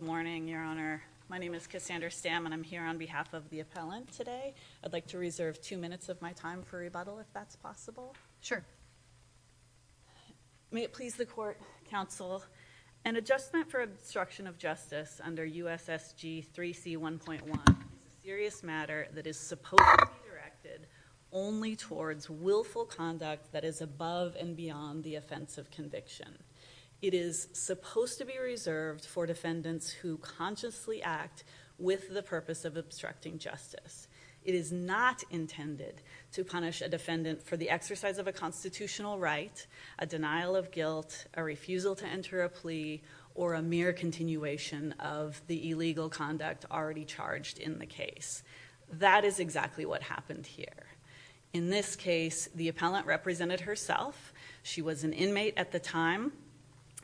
morning your honor my name is Cassandra stamina I'm here on behalf of the appellant today I'd like to reserve two minutes of my time for rebuttal if that's possible sure may it please the court counsel an adjustment for obstruction of justice under USSG 3c 1.1 serious matter that is supposed to be directed only towards willful conduct that is above and beyond the offense of conviction it is supposed to be reserved for defendants who consciously act with the purpose of obstructing justice it is not intended to punish a defendant for the exercise of a constitutional right a denial of guilt a refusal to enter a plea or a mere continuation of the illegal conduct already charged in the case that is exactly what happened here in this case the appellant represented herself she was an inmate at the time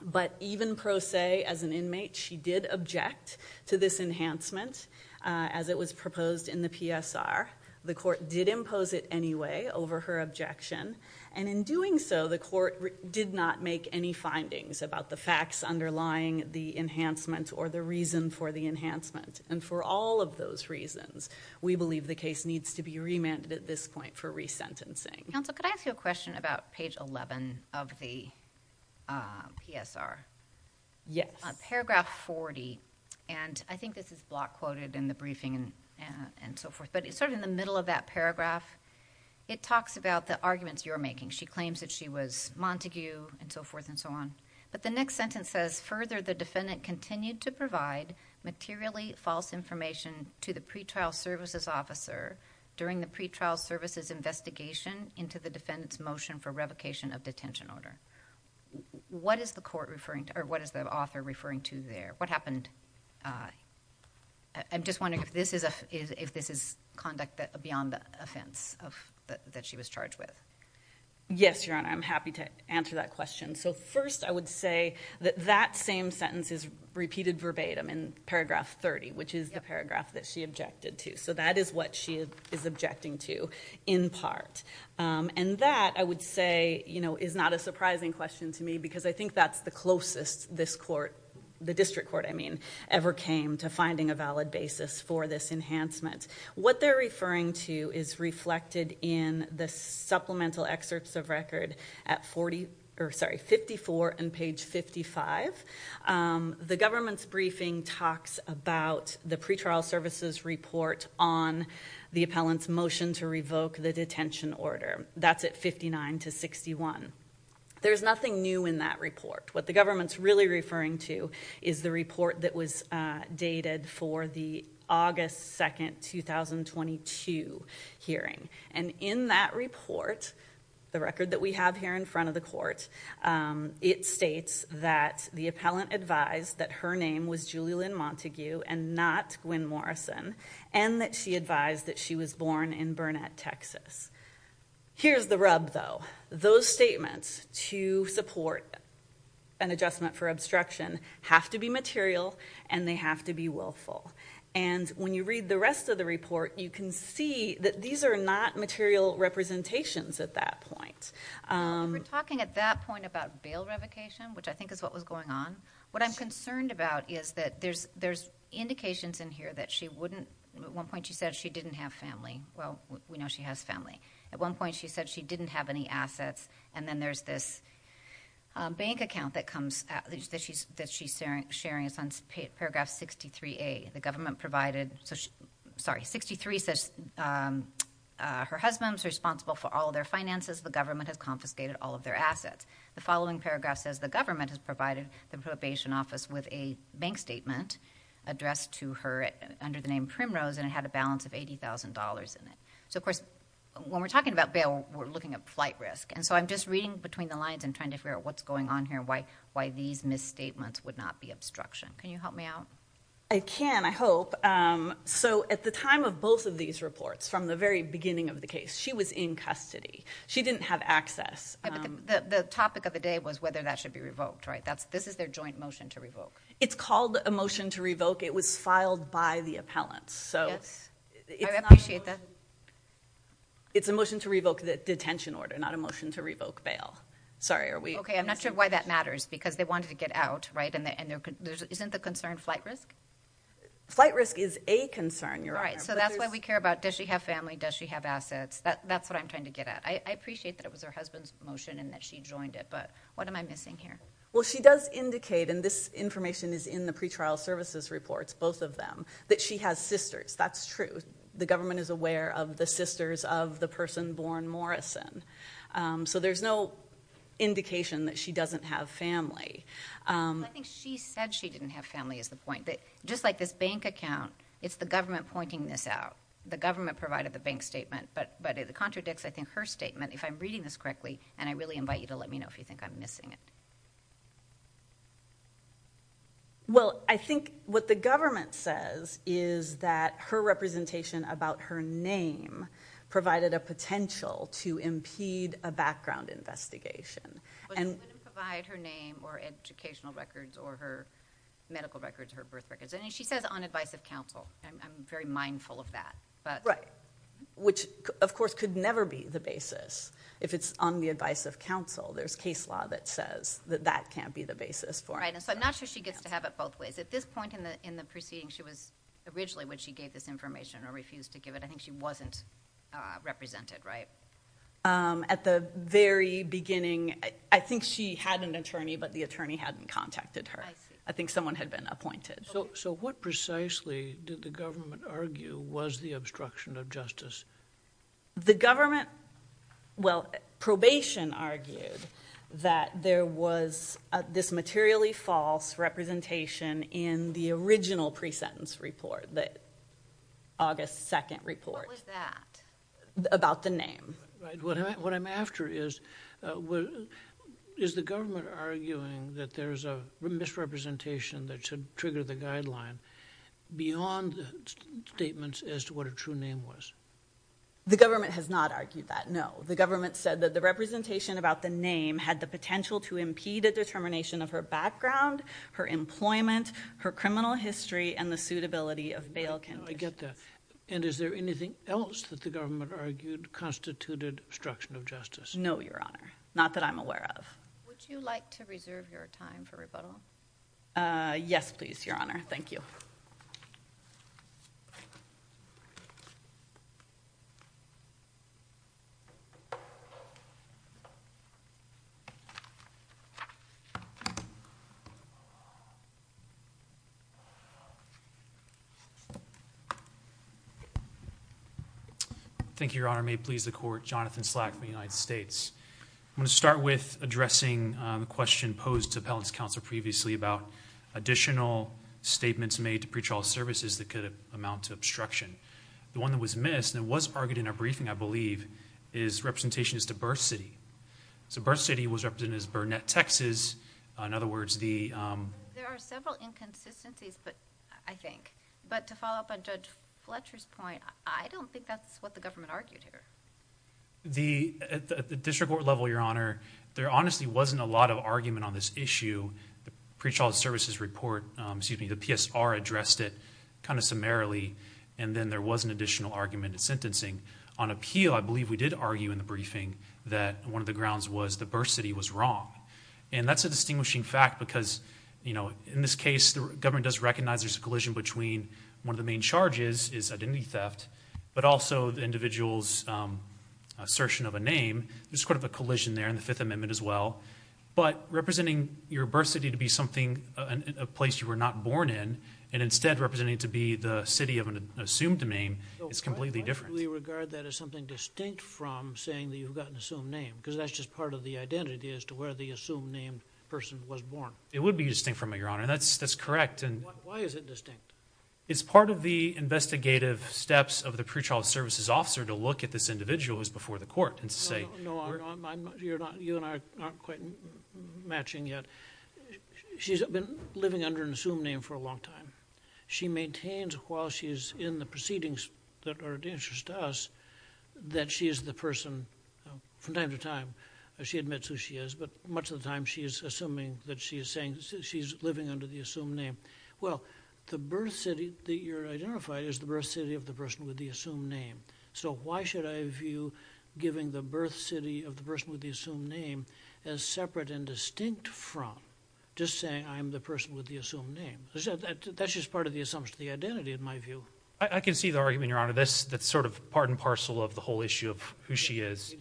but even pro se as an inmate she did object to this enhancement as it was proposed in the PSR the court did impose it anyway over her objection and in doing so the court did not make any findings about the facts underlying the enhancement or the reason for the enhancement and for all of those reasons we believe the case needs to be remanded at this point for resentencing so could I ask you a question about page 11 of the PSR yes paragraph 40 and I think this is block quoted in the briefing and so forth but it's sort of in the middle of that paragraph it talks about the arguments you're making she claims that she was Montague and so forth and so on but the next sentence says further the defendant continued to provide materially false information to the pretrial services officer during the pretrial services investigation into the defendants motion for revocation of detention order what is the court referring to or what is the author referring to there what happened I'm just wondering if this is a is if this is conduct that beyond the offense of that she was charged with yes your honor I'm happy to answer that question so first I would say that that same sentence is repeated verbatim in paragraph 30 which is the paragraph that she objected to so that is what she is objecting to in part and that I would say you know is not a surprising question to me because I think that's the closest this court the district court I mean ever came to finding a valid basis for this enhancement what they're referring to is reflected in the supplemental excerpts of record at 40 or 54 and page 55 the government's briefing talks about the pretrial services report on the appellants motion to revoke the detention order that's at 59 to 61 there's nothing new in that report what the government's really referring to is the report that was dated for the August 2nd 2022 hearing and in that report the record that we have here in front of the court it states that the appellant advised that her name was Julie Lynn Montague and not Gwynn Morrison and that she advised that she was born in Burnett Texas here's the rub though those statements to support an adjustment for obstruction have to be material and they have to be willful and when you read the rest of the report you can see that these are not material representations at that point we're talking at that point about bail revocation which I think is what was going on what I'm concerned about is that there's there's indications in here that she wouldn't at one point she said she didn't have family well we know she has family at one point she said she didn't have any assets and then there's this bank account that comes at least that she's that she's sharing sharing paragraph 63 a the government provided so sorry 63 says her husband's responsible for all their finances the government has confiscated all of their assets the following paragraph says the government has provided the probation office with a bank statement addressed to her under the name primrose and it had a balance of $80,000 in it so of course when we're talking about bail we're looking at flight risk and so I'm just reading between the lines and trying to figure out what's going on here why why these misstatements would not be obstruction can you help me out I can I hope so at the time of both of these reports from the very beginning of the case she was in custody she didn't have access the topic of the day was whether that should be revoked right that's this is their joint motion to revoke it's called a motion to revoke it was filed by the appellants so it's a motion to revoke the detention order not a motion to revoke bail sorry are we okay I'm not sure why that matters because they get out right and there isn't the concern flight risk flight risk is a concern you're right so that's why we care about does she have family does she have assets that that's what I'm trying to get at I appreciate that it was her husband's motion and that she joined it but what am I missing here well she does indicate and this information is in the pretrial services reports both of them that she has sisters that's true the government is aware of the sisters of the person born Morrison so there's no indication that she doesn't have family I think she said she didn't have family is the point that just like this bank account it's the government pointing this out the government provided the bank statement but but it contradicts I think her statement if I'm reading this correctly and I really invite you to let me know if you think I'm missing it well I think what the government says is that her representation about her name provided a potential to impede a background investigation and provide her or educational records or her medical records her birth records and she says on advice of counsel I'm very mindful of that but right which of course could never be the basis if it's on the advice of counsel there's case law that says that that can't be the basis for right and so I'm not sure she gets to have it both ways at this point in the in the proceeding she was originally when she gave this information or refused to give it I think she wasn't represented right at the very beginning I think she had an attorney but the attorney hadn't contacted her I think someone had been appointed so so what precisely did the government argue was the obstruction of justice the government well probation argued that there was this materially false representation in the original pre-sentence report that August 2nd report was that about the name what I'm after is what is the government arguing that there's a misrepresentation that should trigger the guideline beyond the statements as to what a true name was the government has not argued that no the government said that the representation about the name had the potential to impede a determination of her background her employment her criminal history and the suitability of bail can I get that and is there anything else that the government argued constituted obstruction of justice no your honor not that I'm aware of would you like to reserve your time for rebuttal yes please your honor thank you thank you your honor may please the court Jonathan slack the United States I'm going to start with addressing the question posed to appellants counsel previously about additional statements made to pretrial services that could amount to obstruction the one that was missed and was argued in a briefing I believe is representation is to birth city so birth city was represented as net Texas in other words the there are several inconsistencies but I think but to follow up on judge Fletcher's point I don't think that's what the government argued here the at the district court level your honor there honestly wasn't a lot of argument on this issue the pretrial services report excuse me the PSR addressed it kind of summarily and then there was an additional argument sentencing on appeal I believe we did argue in the briefing that one of the and that's a distinguishing fact because you know in this case the government does recognize there's a collision between one of the main charges is identity theft but also the individuals assertion of a name is part of a collision there in the Fifth Amendment as well but representing your birth city to be something a place you were not born in and instead representing to be the city of an assumed name it's completely different we regard that as something distinct from saying that you've got an assumed name because that's just part of the identity as to where the assumed name person was born it would be distinct from it your honor that's that's correct and why is it distinct it's part of the investigative steps of the pretrial services officer to look at this individual who's before the court and say you're not you and I aren't quite matching yet she's been living under an assumed name for a long time she maintains while she's in the proceedings that are dangerous to us that she is the person from time to time she admits who she is but much of the time she is assuming that she is saying she's living under the assumed name well the birth city that you're identified is the birth city of the person with the assumed name so why should I view giving the birth city of the person with the assumed name as separate and distinct from just saying I'm the person with the assumed name that's just part of the assumption the identity in my view I can see the argument your honor this that's sort of part and parcel of the whole issue of who she is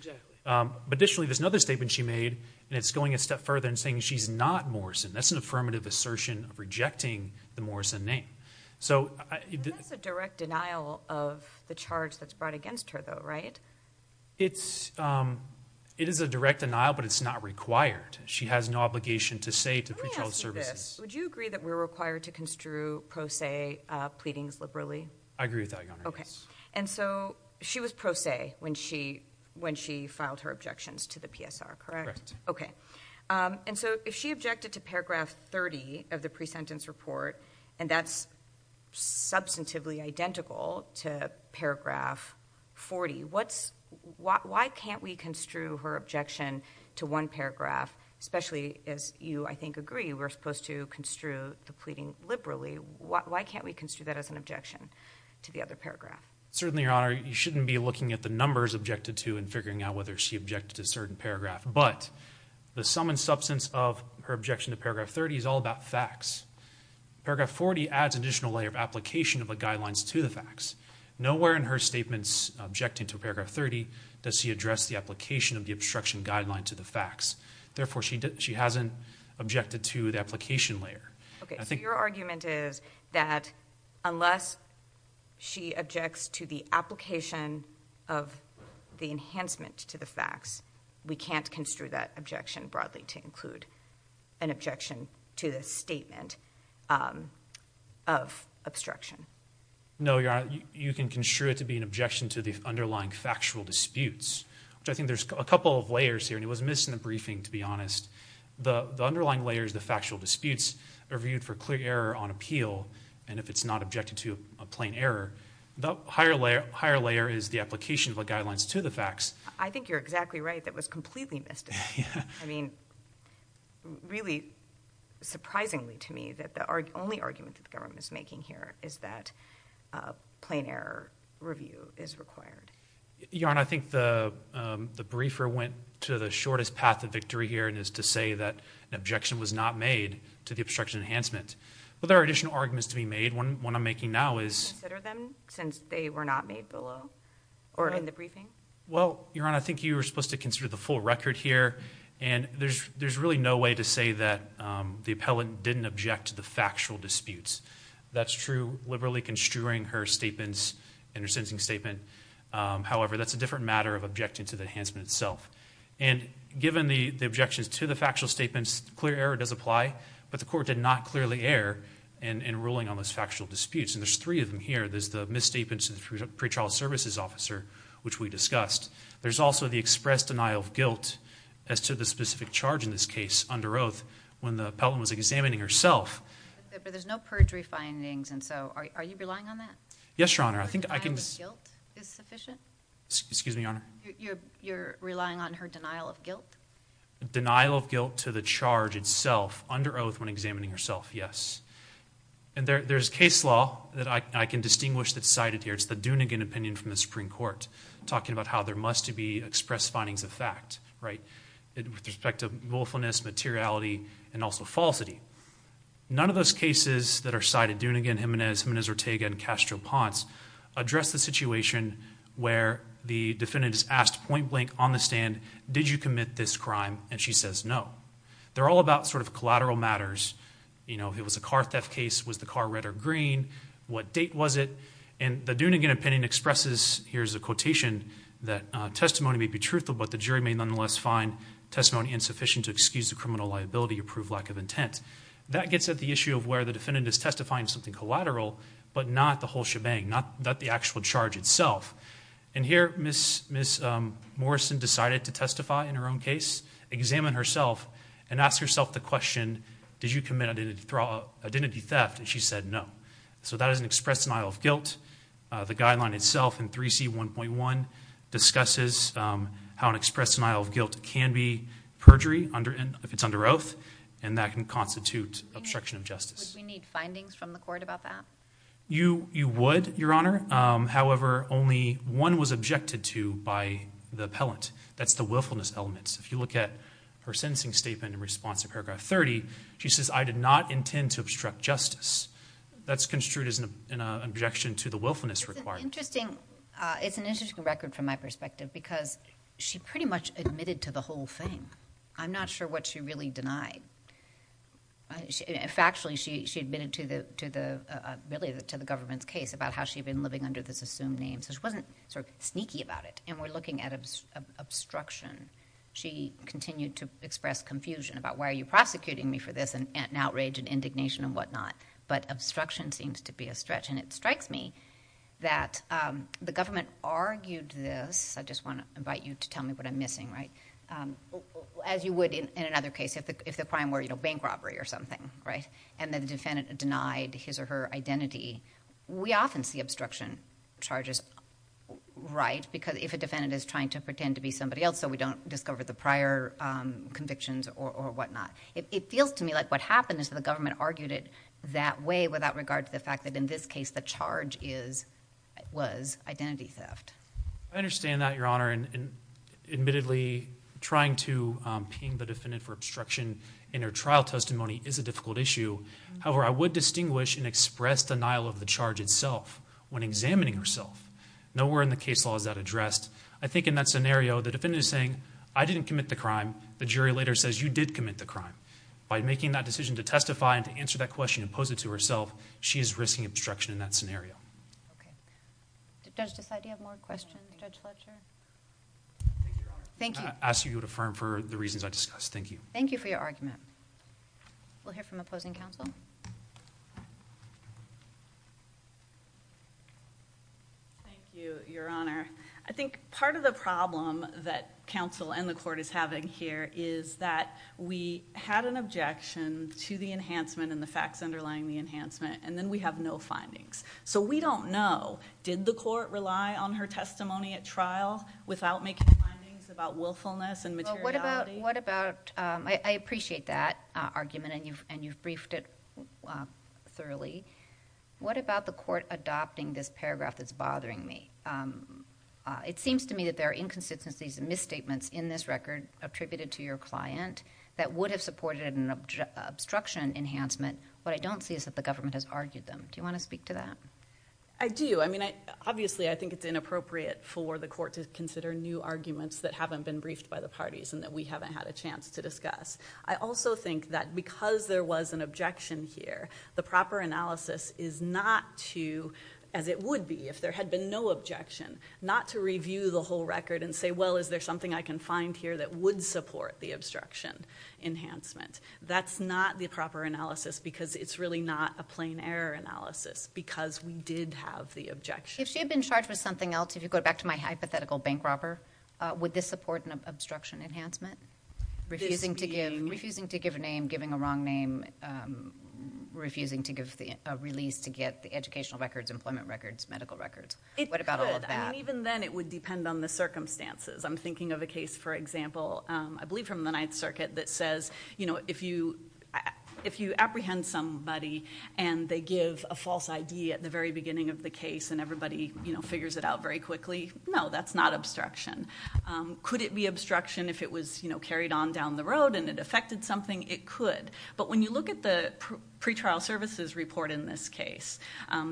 but additionally there's another statement she made and it's going a step further and saying she's not Morrison that's an affirmative assertion of rejecting the Morrison name so direct denial of the charge that's brought against her though right it's it is a direct denial but it's not required she has no obligation to say to pretrial services would you agree that we're required to construe pro se pleadings liberally I agree with that okay and so she was pro se when she when she filed her objections to the PSR correct okay and so if she objected to paragraph 30 of the pre-sentence report and that's substantively identical to paragraph 40 what's why can't we construe her objection to one paragraph especially as you I think agree we're supposed to construe the pleading liberally what why can't we construe that as an objection to the other paragraph certainly your honor you shouldn't be looking at the numbers objected to and figuring out whether she objected to certain paragraph but the sum and substance of her objection to paragraph 30 is all about facts paragraph 40 adds additional layer of application of the guidelines to the facts nowhere in her statements objecting to paragraph 30 does she address the application of the obstruction guideline to the facts therefore she did she hasn't objected to the application layer okay I think your argument is that unless she objects to the application of the enhancement to the facts we can't construe that objection broadly to include an objection to the statement of obstruction no you're you can construe it to be an objection to the underlying factual disputes which I think there's a couple of layers here and it was in the briefing to be honest the underlying layers the factual disputes are viewed for clear error on appeal and if it's not objected to a plain error the higher layer higher layer is the application of the guidelines to the facts I think you're exactly right that was completely missed I mean really surprisingly to me that the only argument the government is making here is that plain error review is required yarn I think the the briefer went to the shortest path to victory here and is to say that an objection was not made to the obstruction enhancement well there are additional arguments to be made one one I'm making now is since they were not made below or in the briefing well your honor I think you were supposed to consider the full record here and there's there's really no way to say that the appellant didn't object to the factual disputes that's true liberally construing her statements and her sentencing statement however that's a different matter of objecting to the itself and given the objections to the factual statements clear error does apply but the court did not clearly err and in ruling on those factual disputes and there's three of them here there's the misstatements and pretrial services officer which we discussed there's also the express denial of guilt as to the specific charge in this case under oath when the Pelham was examining herself there's no perjury findings and so are you relying on that yes your honor I can excuse me honor you're relying on her denial of guilt denial of guilt to the charge itself under oath when examining herself yes and there's case law that I can distinguish that cited here it's the Dunigan opinion from the Supreme Court talking about how there must to be expressed findings of fact right with respect to willfulness materiality and also falsity none of those cases that are cited doing again Jimenez Jimenez Ortega and Castro Ponce address the situation where the defendant is asked point-blank on the stand did you commit this crime and she says no they're all about sort of collateral matters you know it was a car theft case was the car red or green what date was it and the Dunigan opinion expresses here's a quotation that testimony may be truthful but the jury may nonetheless find testimony insufficient to excuse the criminal liability approved lack of intent that gets at the issue of where the defendant is testifying something collateral but not the whole shebang not that the actual charge itself and here miss miss Morrison decided to testify in her own case examine herself and ask herself the question did you commit identity fraud identity theft and she said no so that is an express denial of guilt the guideline itself in 3c 1.1 discusses how an express denial of guilt can be perjury under and if it's under oath and that can constitute obstruction of justice we need findings from the court you you would your honor however only one was objected to by the appellant that's the willfulness elements if you look at her sentencing statement in response to paragraph 30 she says I did not intend to obstruct justice that's construed as an objection to the willfulness required interesting it's an interesting record from my perspective because she pretty much admitted to the whole thing I'm not sure what she really denied factually she admitted to the to the government's case about how she'd been living under this assumed name so she wasn't sort of sneaky about it and we're looking at obstruction she continued to express confusion about why are you prosecuting me for this and outrage and indignation and whatnot but obstruction seems to be a stretch and it strikes me that the government argued this I just want to invite you to tell me what I'm missing right as you would in another case if the if the crime were you know bank robbery or something right and the defendant denied his or her identity we often see obstruction charges right because if a defendant is trying to pretend to be somebody else so we don't discover the prior convictions or whatnot it feels to me like what happened is the government argued it that way without regard to the fact that in this case the charge is it was identity theft I understand that your honor and admittedly trying to ping the for obstruction in her trial testimony is a difficult issue however I would distinguish and express denial of the charge itself when examining herself nowhere in the case laws that addressed I think in that scenario the defendant is saying I didn't commit the crime the jury later says you did commit the crime by making that decision to testify and to answer that question and pose it to herself she is risking obstruction in that scenario does decide you have more questions judge Fletcher thank you ask you to affirm for the reasons I discussed thank you thank you for your argument we'll hear from opposing counsel thank you your honor I think part of the problem that counsel and the court is having here is that we had an objection to the enhancement and the facts don't know did the court rely on her testimony at trial without making findings about willfulness and what about what about I appreciate that argument and you've and you've briefed it thoroughly what about the court adopting this paragraph that's bothering me it seems to me that there are inconsistencies and misstatements in this record attributed to your client that would have supported an obstruction enhancement what I don't see is that the court has argued them do you want to speak to that I do I mean I obviously I think it's inappropriate for the court to consider new arguments that haven't been briefed by the parties and that we haven't had a chance to discuss I also think that because there was an objection here the proper analysis is not to as it would be if there had been no objection not to review the whole record and say well is there something I can find here that would support the obstruction enhancement that's not the proper analysis because it's really not a plain error analysis because we did have the objection she had been charged with something else if you go back to my hypothetical bank robber with this support and obstruction enhancement refusing to give refusing to give a name giving a wrong name refusing to give the release to get the educational records employment records medical records what about all of that even then it would depend on the circumstances I'm thinking of a case for example I believe from the circuit that says you know if you if you apprehend somebody and they give a false ID at the very beginning of the case and everybody you know figures it out very quickly no that's not obstruction could it be obstruction if it was you know carried on down the road and it affected something it could but when you look at the pretrial services report in this case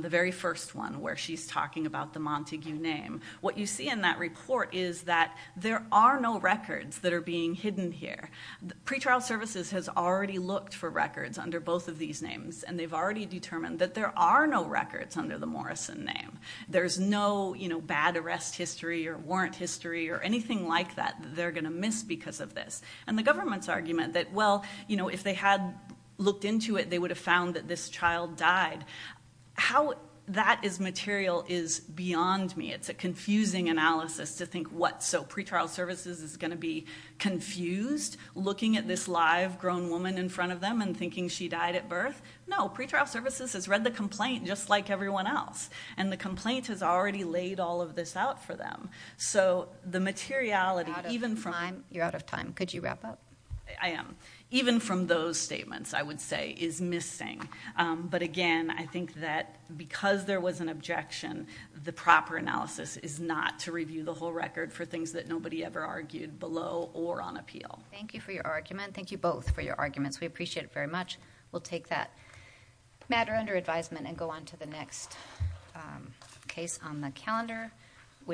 the very first one where she's talking about the Montague name what you see in that report is that there are no records that are being hidden here pretrial services has already looked for records under both of these names and they've already determined that there are no records under the Morrison name there's no you know bad arrest history or warrant history or anything like that they're gonna miss because of this and the government's argument that well you know if they had looked into it they would have found that this child died how that is material is beyond me it's a confusing analysis to think what so pretrial services is gonna be confused looking at this live grown woman in front of them and thinking she died at birth no pretrial services has read the complaint just like everyone else and the complaint has already laid all of this out for them so the materiality even from I'm you're out of time could you wrap up I am even from those statements I would say is missing but again I think that because there was an objection the proper analysis is not to review the whole record for things that nobody ever argued below or on appeal thank you for your argument thank you both for your arguments we appreciate it very much we'll take that matter under advisement and go on to the next case on the calendar